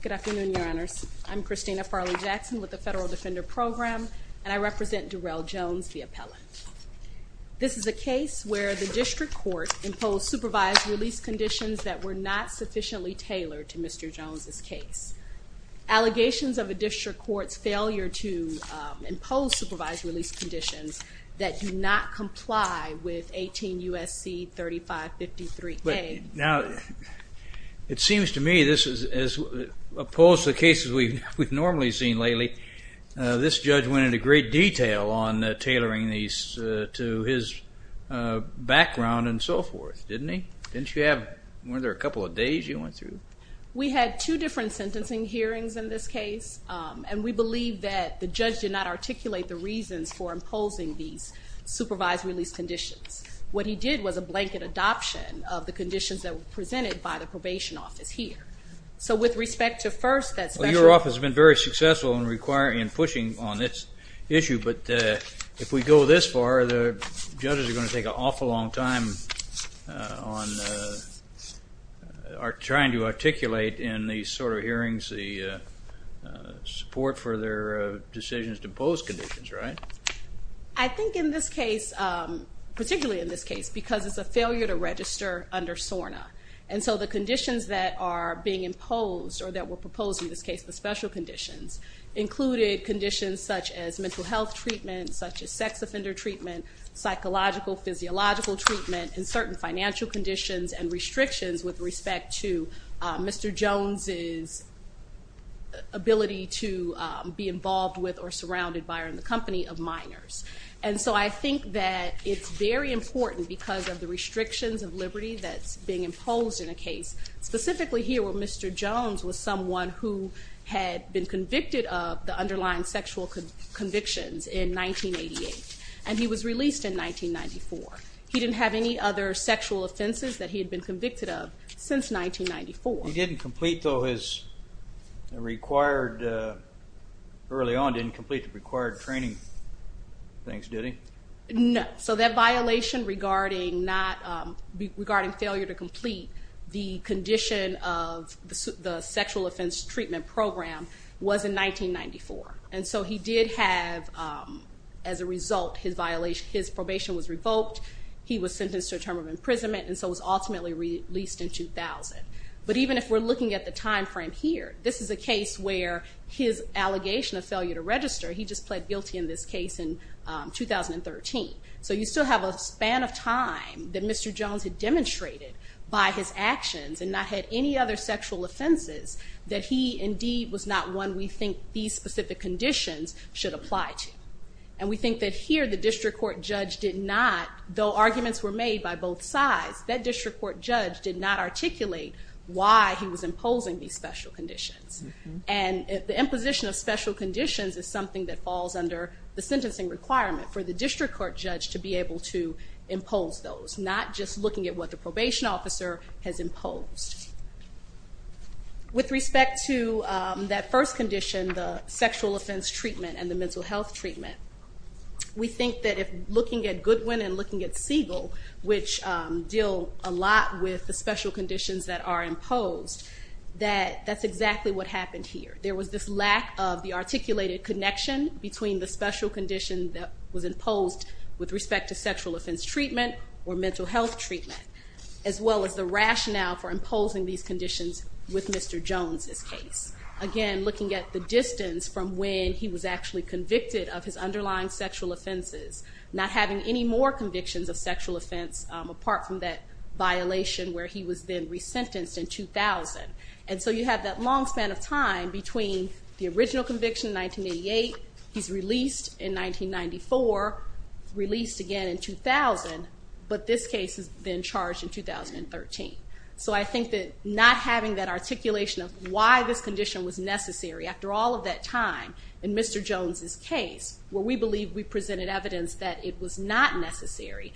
Good afternoon, your honors. I'm Christina Farley-Jackson with the Federal Defender Program and I represent Darrell Jones the appellant. This is a case where the district court imposed supervised release conditions that were not sufficiently tailored to Mr. Jones's case. Allegations of a district court's failure to impose supervised release conditions that do not comply with 18 USC 3553K. Now it seems to me this is as opposed to the cases we've normally seen lately. This judge went into great detail on tailoring these to his background and so forth, didn't he? Didn't you have, weren't there a couple of days you went through? We had two different sentencing hearings in this case and we believe that the judge did not articulate the reasons for imposing these supervised release conditions. What he did was a blanket adoption of the conditions that were presented by the probation office here. So with respect to Your office has been very successful in requiring and pushing on this issue but if we go this far the judges are going to take an awful long time on trying to articulate in these sort of hearings the support for their decisions to impose conditions, right? I think in this case, particularly in this case, because it's a failure to register under SORNA and so the conditions that are being imposed or that were proposed in this case, the special conditions, included conditions such as mental health treatment, such as sex offender treatment, psychological physiological treatment, and certain financial conditions and restrictions with respect to Mr. Jones' ability to be involved with or surrounded by or in the company of minors. And so I think that it's very important because of the restrictions of liberty that's being imposed in a case, specifically here where Mr. Jones was someone who had been convicted of the underlying sexual convictions in 1988 and he was released in 1994. He didn't have any other sexual offenses that he had been convicted of since 1994. He didn't complete though his required, early on didn't complete the required training things, did he? No. So that violation regarding failure to complete the condition of the sexual offense treatment program was in 1994. And so he did have, as a result, his violation, his probation was revoked, he was sentenced to a term of imprisonment and so was ultimately released in 2000. But even if we're looking at the time frame here, this is a case where his allegation of failure to register, he just pled guilty in this case in 2013. So you still have a span of time that Mr. Jones had demonstrated by his actions and not had any other sexual offenses that he indeed was not one we think these specific conditions should apply to. And we think that here the district court judge did not, though arguments were made by both sides, that district court judge did not articulate why he was imposing these special conditions. And the imposition of special conditions is something that is under the sentencing requirement for the district court judge to be able to impose those, not just looking at what the probation officer has imposed. With respect to that first condition, the sexual offense treatment and the mental health treatment, we think that if looking at Goodwin and looking at Siegel, which deal a lot with the special conditions that are imposed, that that's exactly what happened here. There was this lack of the articulated connection between the special condition that was imposed with respect to sexual offense treatment or mental health treatment, as well as the rationale for imposing these conditions with Mr. Jones's case. Again, looking at the distance from when he was actually convicted of his underlying sexual offenses, not having any more convictions of sexual offense apart from that violation where he was then resentenced in 2000. And so you have that long span of time between the original conviction in 1988, he's released in 1994, released again in 2000, but this case has been charged in 2013. So I think that not having that articulation of why this condition was necessary after all of that time in Mr. Jones's case, where we believe we presented evidence that it was not necessary,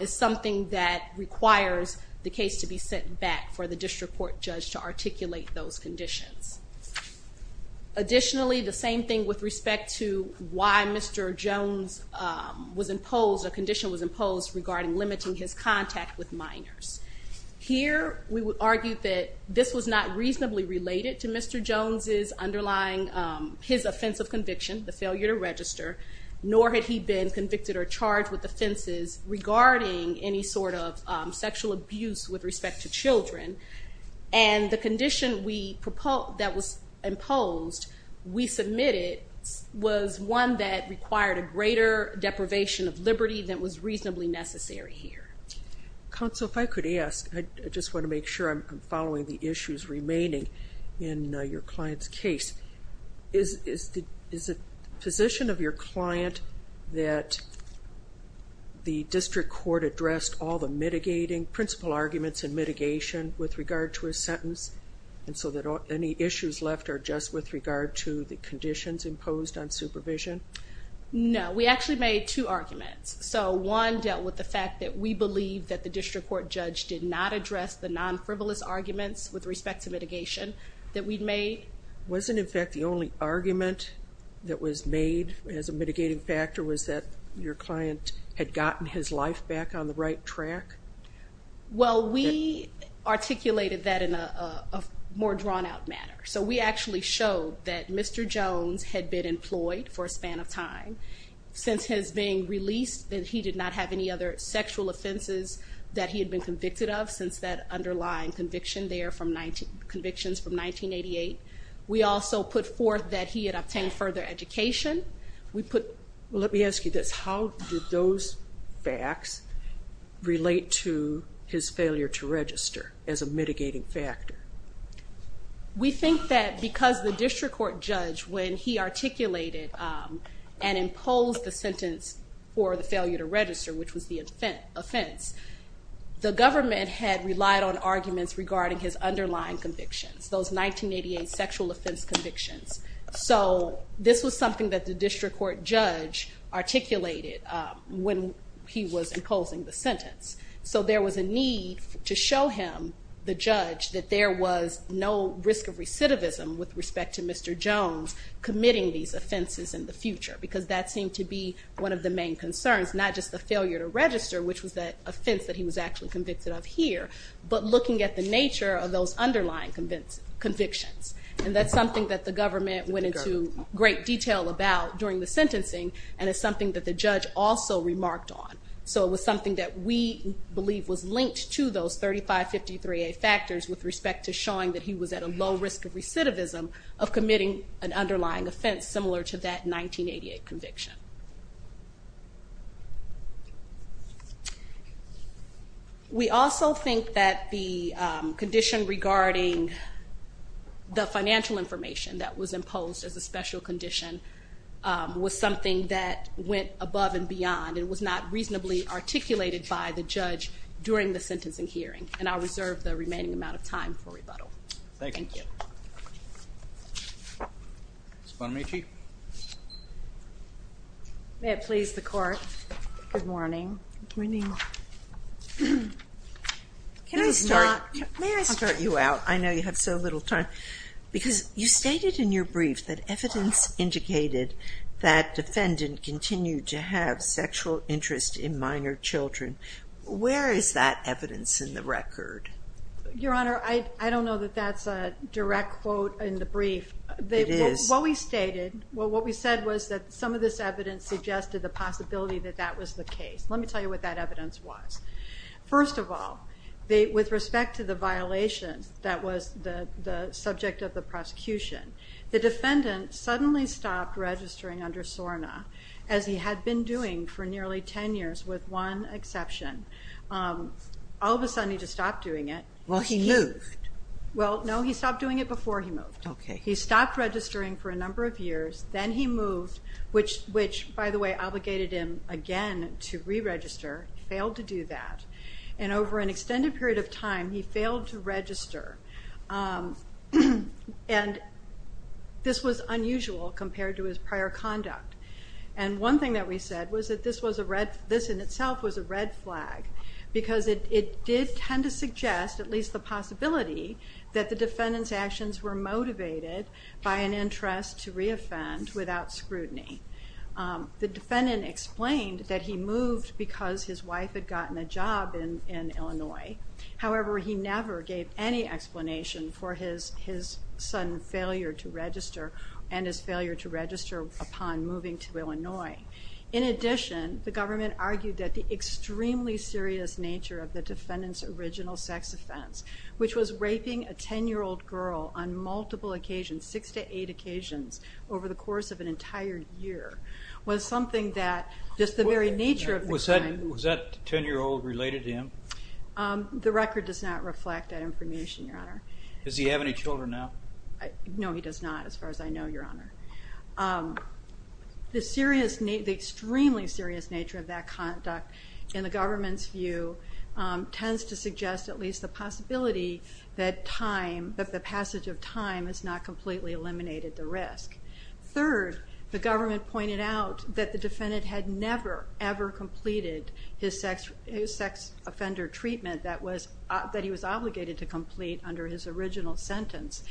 is something that requires the case to be sent back for the district court judge to articulate those conditions. Additionally, the same thing with respect to why Mr. Jones was imposed, a condition was imposed regarding limiting his contact with minors. Here we would argue that this was not reasonably related to Mr. Jones's underlying, his offense of conviction, the failure to register, nor had he been convicted or charged with offenses regarding any sort of sexual abuse with respect to children. And the condition that was imposed, we submitted, was one that required a greater deprivation of liberty than was reasonably necessary here. Counsel, if I could ask, I just want to make sure I'm following the issues remaining in your client's case. Is it the position of your client that the district court addressed all the mitigating principle arguments and mitigation with regard to his sentence and so that any issues left are just with regard to the conditions imposed on supervision? No, we actually made two arguments. So one dealt with the fact that we believe that the district court judge did not address the non-frivolous arguments with respect to mitigation that we'd made. Wasn't in fact the only argument that was made as a mitigating factor was that your client had gotten his life back on the right track? Well, we articulated that in a more drawn-out manner. So we actually showed that Mr. Jones had been employed for a span of time. Since his being released, that he did not have any other sexual offenses that he had been convicted of since that underlying conviction there from 19, from 1988. We also put forth that he had obtained further education. Let me ask you this, how did those facts relate to his failure to register as a mitigating factor? We think that because the district court judge, when he articulated and imposed the sentence for the failure to register, which was the offense, the government had relied on arguments regarding his underlying convictions, those 1988 sexual offense convictions. So this was something that the district court judge articulated when he was imposing the sentence. So there was a need to show him, the judge, that there was no risk of recidivism with respect to Mr. Jones committing these offenses in the future. Because that seemed to be one of the main concerns, not just the failure to register, which was that offense that he was actually convicted of here, but looking at the nature of those underlying convictions. And that's something that the government went into great detail about during the sentencing and it's something that the judge also remarked on. So it was something that we believe was linked to those 3553A factors with respect to showing that he was at a low risk of recidivism of committing an underlying offense similar to that 1988 conviction. We also think that the condition regarding the financial information that was imposed as a special condition was something that went above and beyond and was not reasonably articulated by the judge during the sentencing hearing. And I'll reserve the remaining amount of time for rebuttal. Thank you. Ms. Bonamici? May it please the court, good morning. Good morning. May I start you out? I know you have so little time. Because you stated in your brief that evidence indicated that defendant continued to have sexual interest in minor children. Where is that evidence in the record? Your Honor, I don't know that that's a direct quote in the brief. It is. What we stated, what we said was that some of this evidence suggested the possibility that that was the case. Let me tell you what that evidence was. First of all, with respect to the violations that was the subject of the prosecution, the defendant suddenly stopped registering under SORNA as he had been doing for nearly 10 years with one exception. All Well, no, he stopped doing it before he moved. He stopped registering for a number of years, then he moved, which by the way obligated him again to re-register, failed to do that. And over an extended period of time he failed to register. And this was unusual compared to his prior conduct. And one thing that we said was that this was a red, this in itself was a red flag, because it did tend to suggest, at least the possibility, that the defendant's actions were motivated by an interest to re-offend without scrutiny. The defendant explained that he moved because his wife had gotten a job in Illinois. However, he never gave any explanation for his sudden failure to register and his failure to register upon moving to Illinois. In addition, the government argued that the extremely serious nature of the defendant's original sex offense, which was raping a ten-year-old girl on multiple occasions, six to eight occasions, over the course of an entire year, was something that just the very nature of the crime... Was that ten-year-old related to him? The record does not reflect that information, Your Honor. Does he have any children now? No, he does not as far as I know, Your Honor. The serious, the extremely serious nature of that conduct, in the government's view, tends to suggest at least the possibility that time, that the passage of time, has not completely eliminated the risk. Third, the government pointed out that the defendant had never, ever completed his sex offender treatment that was, that he was obligated to complete under his original sentence,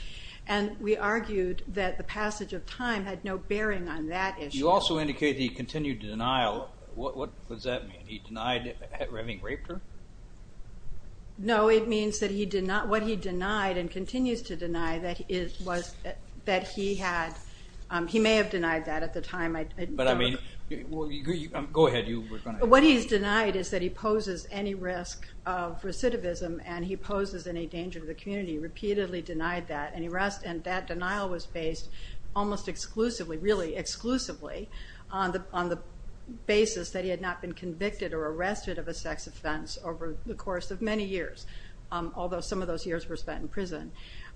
and we argued that the passage of time had no bearing on that issue. You also indicate the continued denial. What does that mean? He denied having raped her? No, it means that he did not, what he denied and continues to deny, that it was, that he had, he may have denied that at the time. But I mean, go ahead. What he's denied is that he poses any risk of recidivism and he poses any danger to the community. He repeatedly denied that and that denial was based almost exclusively, really exclusively, on the basis that he had not been convicted or arrested of a sex offense over the course of many years, although some of those years were spent in prison.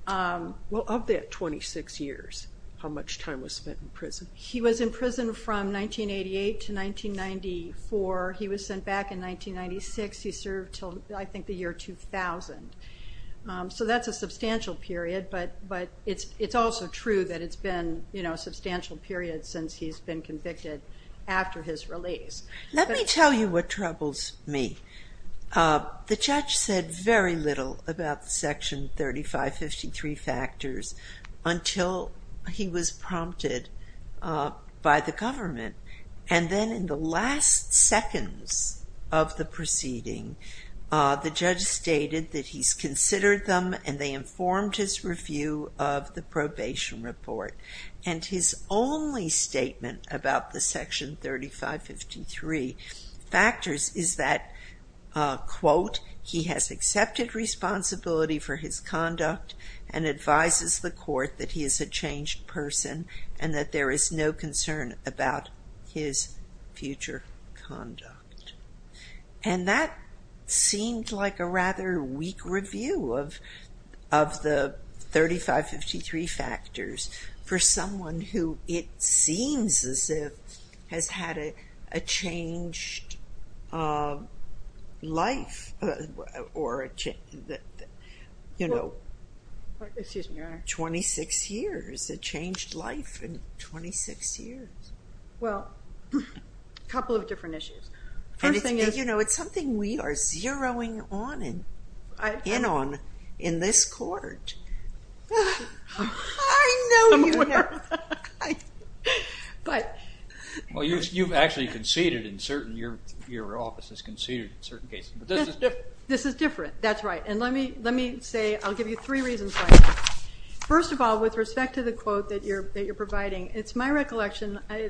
Well, of that 26 years, how much time was spent in prison? He was in prison from 1988 to 1994. He was sent back in 1996. He served till, I think, the year 2000. So that's a but it's also true that it's been, you know, a substantial period since he's been convicted after his release. Let me tell you what troubles me. The judge said very little about the Section 3553 factors until he was prompted by the government, and then in the last seconds of the proceeding, the judge stated that he's considered them and they informed his review of the probation report. And his only statement about the Section 3553 factors is that, quote, he has accepted responsibility for his conduct and advises the court that he is a changed person and that there is no concern about his future conduct. And that seemed like a rather weak review of the 3553 factors for someone who, it seems as if, has had a changed life or, you know, 26 years, a changed life in 26 years. I think we are zeroing in on in this court. Well, you've actually conceded in certain, your office has conceded in certain cases. This is different. That's right, and let me say, I'll give you three reasons why. First of all, with respect to the quote that you're providing, it's my recollection, I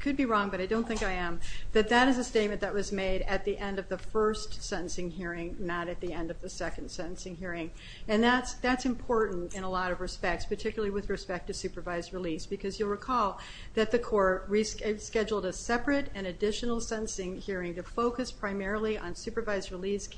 could be wrong but I don't think I am, that that is a statement that was made at the end of the first sentencing hearing, not at the end of the second sentencing hearing. And that's important in a lot of respects, particularly with respect to supervised release, because you'll recall that the court rescheduled a separate and additional sentencing hearing to focus primarily on supervised release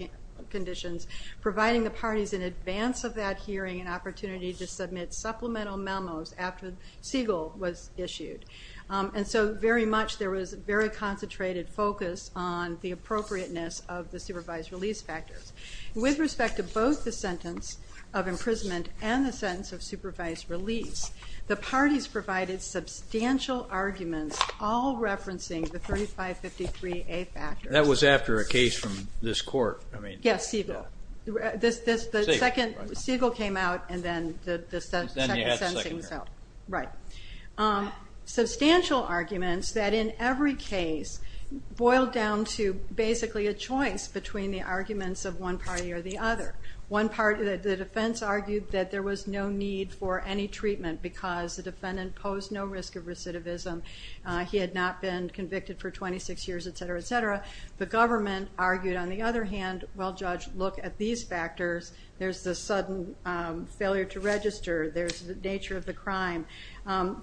conditions, providing the parties in advance of that hearing an opportunity to submit supplemental memos after Siegel was issued. And so very much there was very concentrated focus on the appropriateness of the supervised release factors. With respect to both the sentence of imprisonment and the sentence of supervised release, the parties provided substantial arguments all referencing the 3553A factors. That was after a case from this court. Yes, Siegel. Siegel came out and then the second sentencing was out. Right. Substantial arguments that in every case boiled down to basically a choice between the arguments of one party or the other. One party, the defense argued that there was no need for any treatment because the defendant posed no risk of recidivism. He had not been convicted for 26 years, etc., etc. The government argued, on the other hand, well, Judge, look at these factors. There's the sudden failure to register. There's the nature of the crime.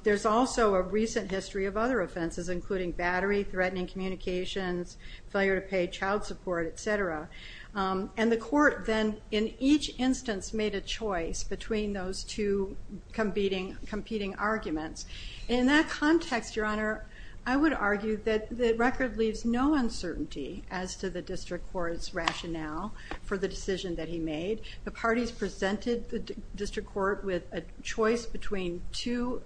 There's also a recent history of other offenses, including battery, threatening communications, failure to pay child support, etc. And the court then in each instance made a choice between those two competing arguments. In that context, Your Uncertainty, as to the district court's rationale for the decision that he made, the parties presented the district court with a choice between two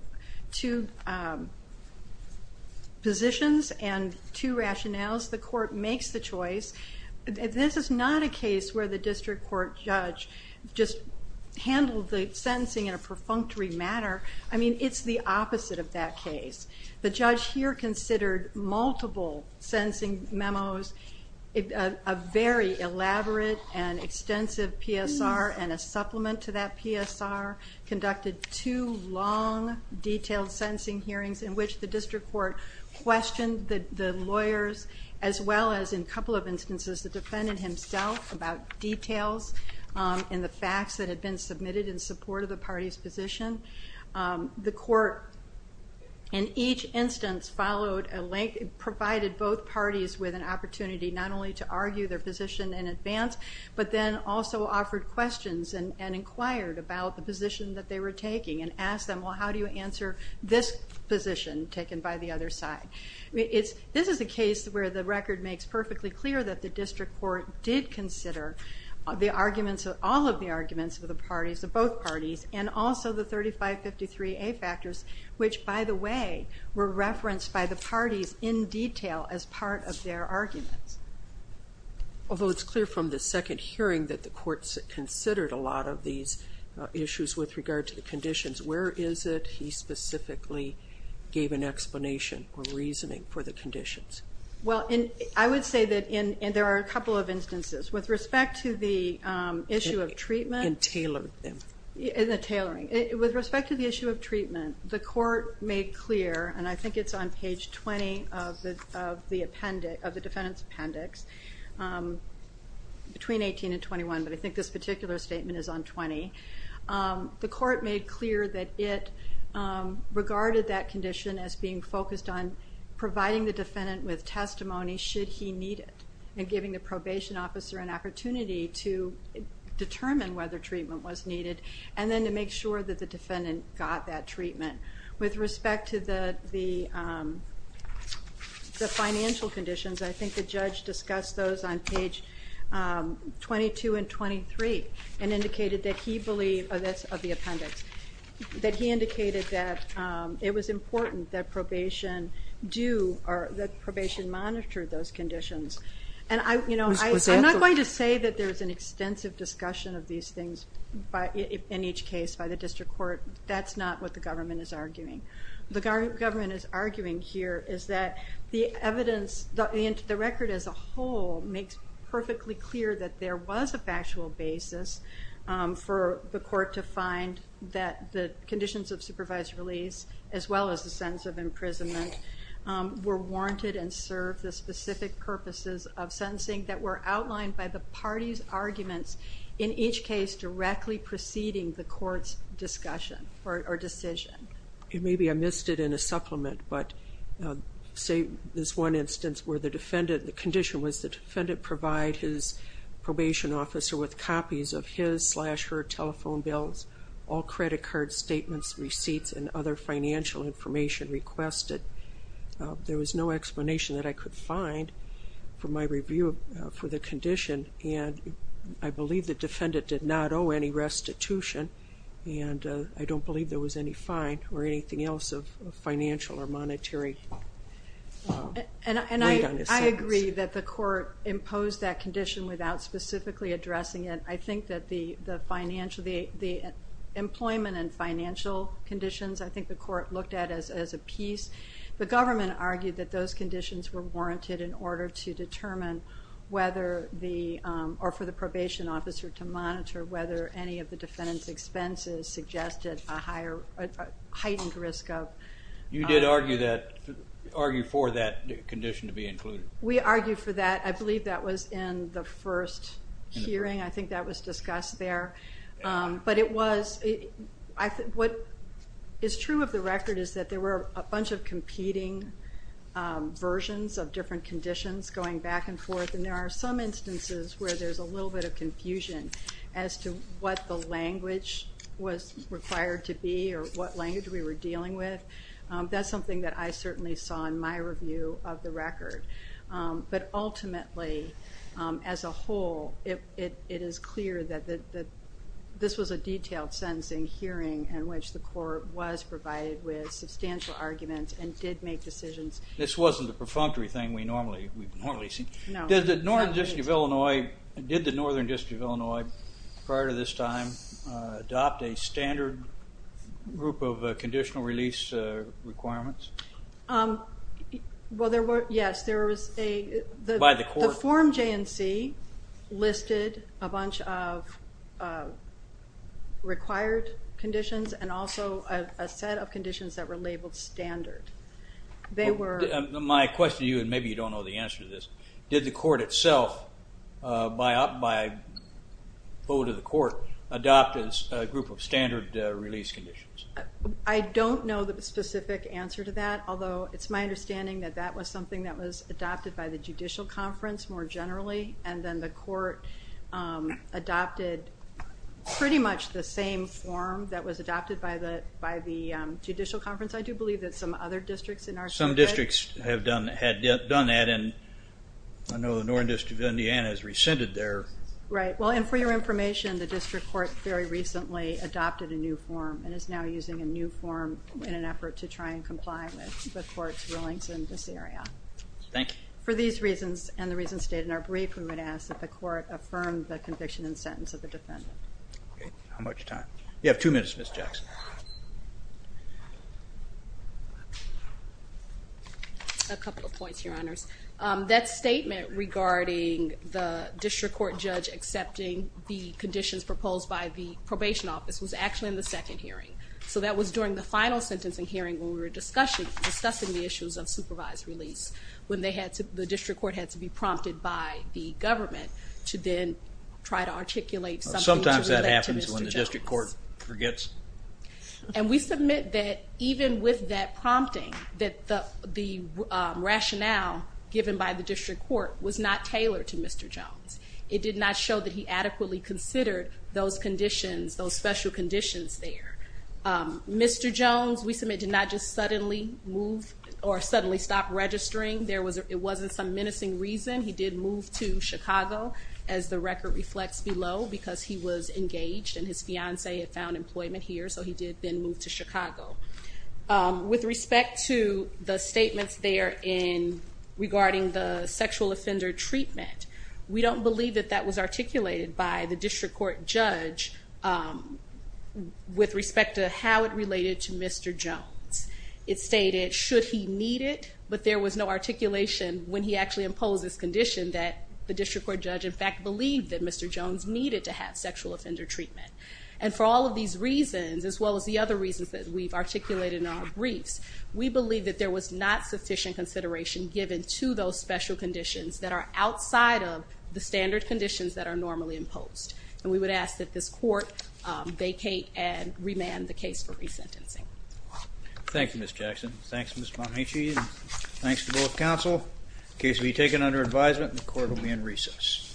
positions and two rationales. The court makes the choice. This is not a case where the district court judge just handled the sentencing in a perfunctory manner. I mean, it's the opposite of that case. The judge here considered multiple sentencing memos. A very elaborate and extensive PSR and a supplement to that PSR conducted two long, detailed sentencing hearings in which the district court questioned the lawyers as well as, in a couple of instances, the defendant himself about details in the facts that had been submitted in support of the party's position. The court, in each instance, followed a link, provided both parties with an opportunity not only to argue their position in advance, but then also offered questions and inquired about the position that they were taking and asked them, well, how do you answer this position taken by the other side? This is a case where the record makes perfectly clear that the district court did consider the arguments, all of the arguments of the parties, of both parties, and also the 3553A factors, which, by the way, were as part of their arguments. Although it's clear from the second hearing that the courts considered a lot of these issues with regard to the conditions, where is it he specifically gave an explanation or reasoning for the conditions? Well, I would say that there are a couple of instances. With respect to the issue of treatment... And tailored them. In the tailoring. With respect to the issue of treatment, the court made clear, and I think it's on the defendant's appendix, between 18 and 21, but I think this particular statement is on 20. The court made clear that it regarded that condition as being focused on providing the defendant with testimony, should he need it, and giving the probation officer an opportunity to determine whether treatment was needed, and then to make sure that the defendant got that treatment. With respect to the financial conditions, I think the judge discussed those on page 22 and 23, and indicated that he believed, that's of the appendix, that he indicated that it was important that probation do, or that probation monitor those conditions. And I, you know, I'm not going to say that there's an extensive discussion of these things in each case by the district court. That's not what the government is saying, is that the evidence, the record as a whole, makes perfectly clear that there was a factual basis for the court to find that the conditions of supervised release, as well as the sentence of imprisonment, were warranted and served the specific purposes of sentencing that were outlined by the party's arguments in each case directly preceding the court's discussion or decision. Maybe I missed it in a supplement, but say this one instance where the defendant, the condition was the defendant provide his probation officer with copies of his slash her telephone bills, all credit card statements, receipts, and other financial information requested. There was no explanation that I could find for my review for the condition, and I believe the defendant did not owe any restitution, and I don't believe there was any fine or anything else of financial or monetary. And I agree that the court imposed that condition without specifically addressing it. I think that the employment and financial conditions, I think the court looked at as a piece. The government argued that those conditions were warranted in order to determine whether the, or for the probation officer to monitor whether any of the defendant's expenses suggested a higher, a heightened risk of. You did argue for that condition to be included? We argued for that. I believe that was in the first hearing. I think that was discussed there, but it was, what is true of the record is that there were a of different conditions going back and forth, and there are some instances where there's a little bit of confusion as to what the language was required to be or what language we were dealing with. That's something that I certainly saw in my review of the record. But ultimately, as a whole, it is clear that this was a detailed sentencing hearing in which the court was provided with thing we normally see. Did the Northern District of Illinois, did the Northern District of Illinois, prior to this time, adopt a standard group of conditional release requirements? Well, there were, yes, there was a, the form J&C listed a bunch of required conditions and also a set of conditions that were labeled standard. They were... My question to you, and maybe you don't know the answer to this, did the court itself, by vote of the court, adopt a group of standard release conditions? I don't know the specific answer to that, although it's my understanding that that was something that was adopted by the Judicial Conference more generally, and then the court adopted pretty much the same form that was adopted by the Judicial Conference. I do believe that some other districts in our... Some districts had done that, and I know the Northern District of Indiana has rescinded there. Right, well, and for your information, the district court very recently adopted a new form and is now using a new form in an effort to try and comply with the court's rulings in this area. Thank you. For these reasons and the reasons stated in our brief, we would ask that the court affirm the conviction and sentence of the defendant. Okay, how much time? You have two minutes, Ms. Jackson. A couple of points, Your Honors. That statement regarding the district court judge accepting the conditions proposed by the probation office was actually in the second hearing, so that was during the final sentencing hearing when we were discussing the issues of supervised release, when the district court had to be prompted by the government to then try to articulate... Sometimes that happens when the district court forgets. And we submit that even with that prompting, that the rationale given by the district court was not tailored to Mr. Jones. It did not show that he adequately considered those conditions, those special conditions there. Mr. Jones, we submit, did not just suddenly move or suddenly stop registering. There was... It did move to Chicago, as the record reflects below, because he was engaged and his fiance had found employment here, so he did then move to Chicago. With respect to the statements there in regarding the sexual offender treatment, we don't believe that that was articulated by the district court judge with respect to how it related to Mr. Jones. It stated, should he need it, but there was no articulation when he actually imposed this condition that the district court judge, in fact, believed that Mr. Jones needed to have sexual offender treatment. And for all of these reasons, as well as the other reasons that we've articulated in our briefs, we believe that there was not sufficient consideration given to those special conditions that are outside of the standard conditions that are normally imposed. And we would ask that this court vacate and remand the case for resentencing. Thank you, Ms. Jackson. Thanks, Ms. Bonacic. Thanks to both counsel. The case will be taken under advisement and the court will be in recess.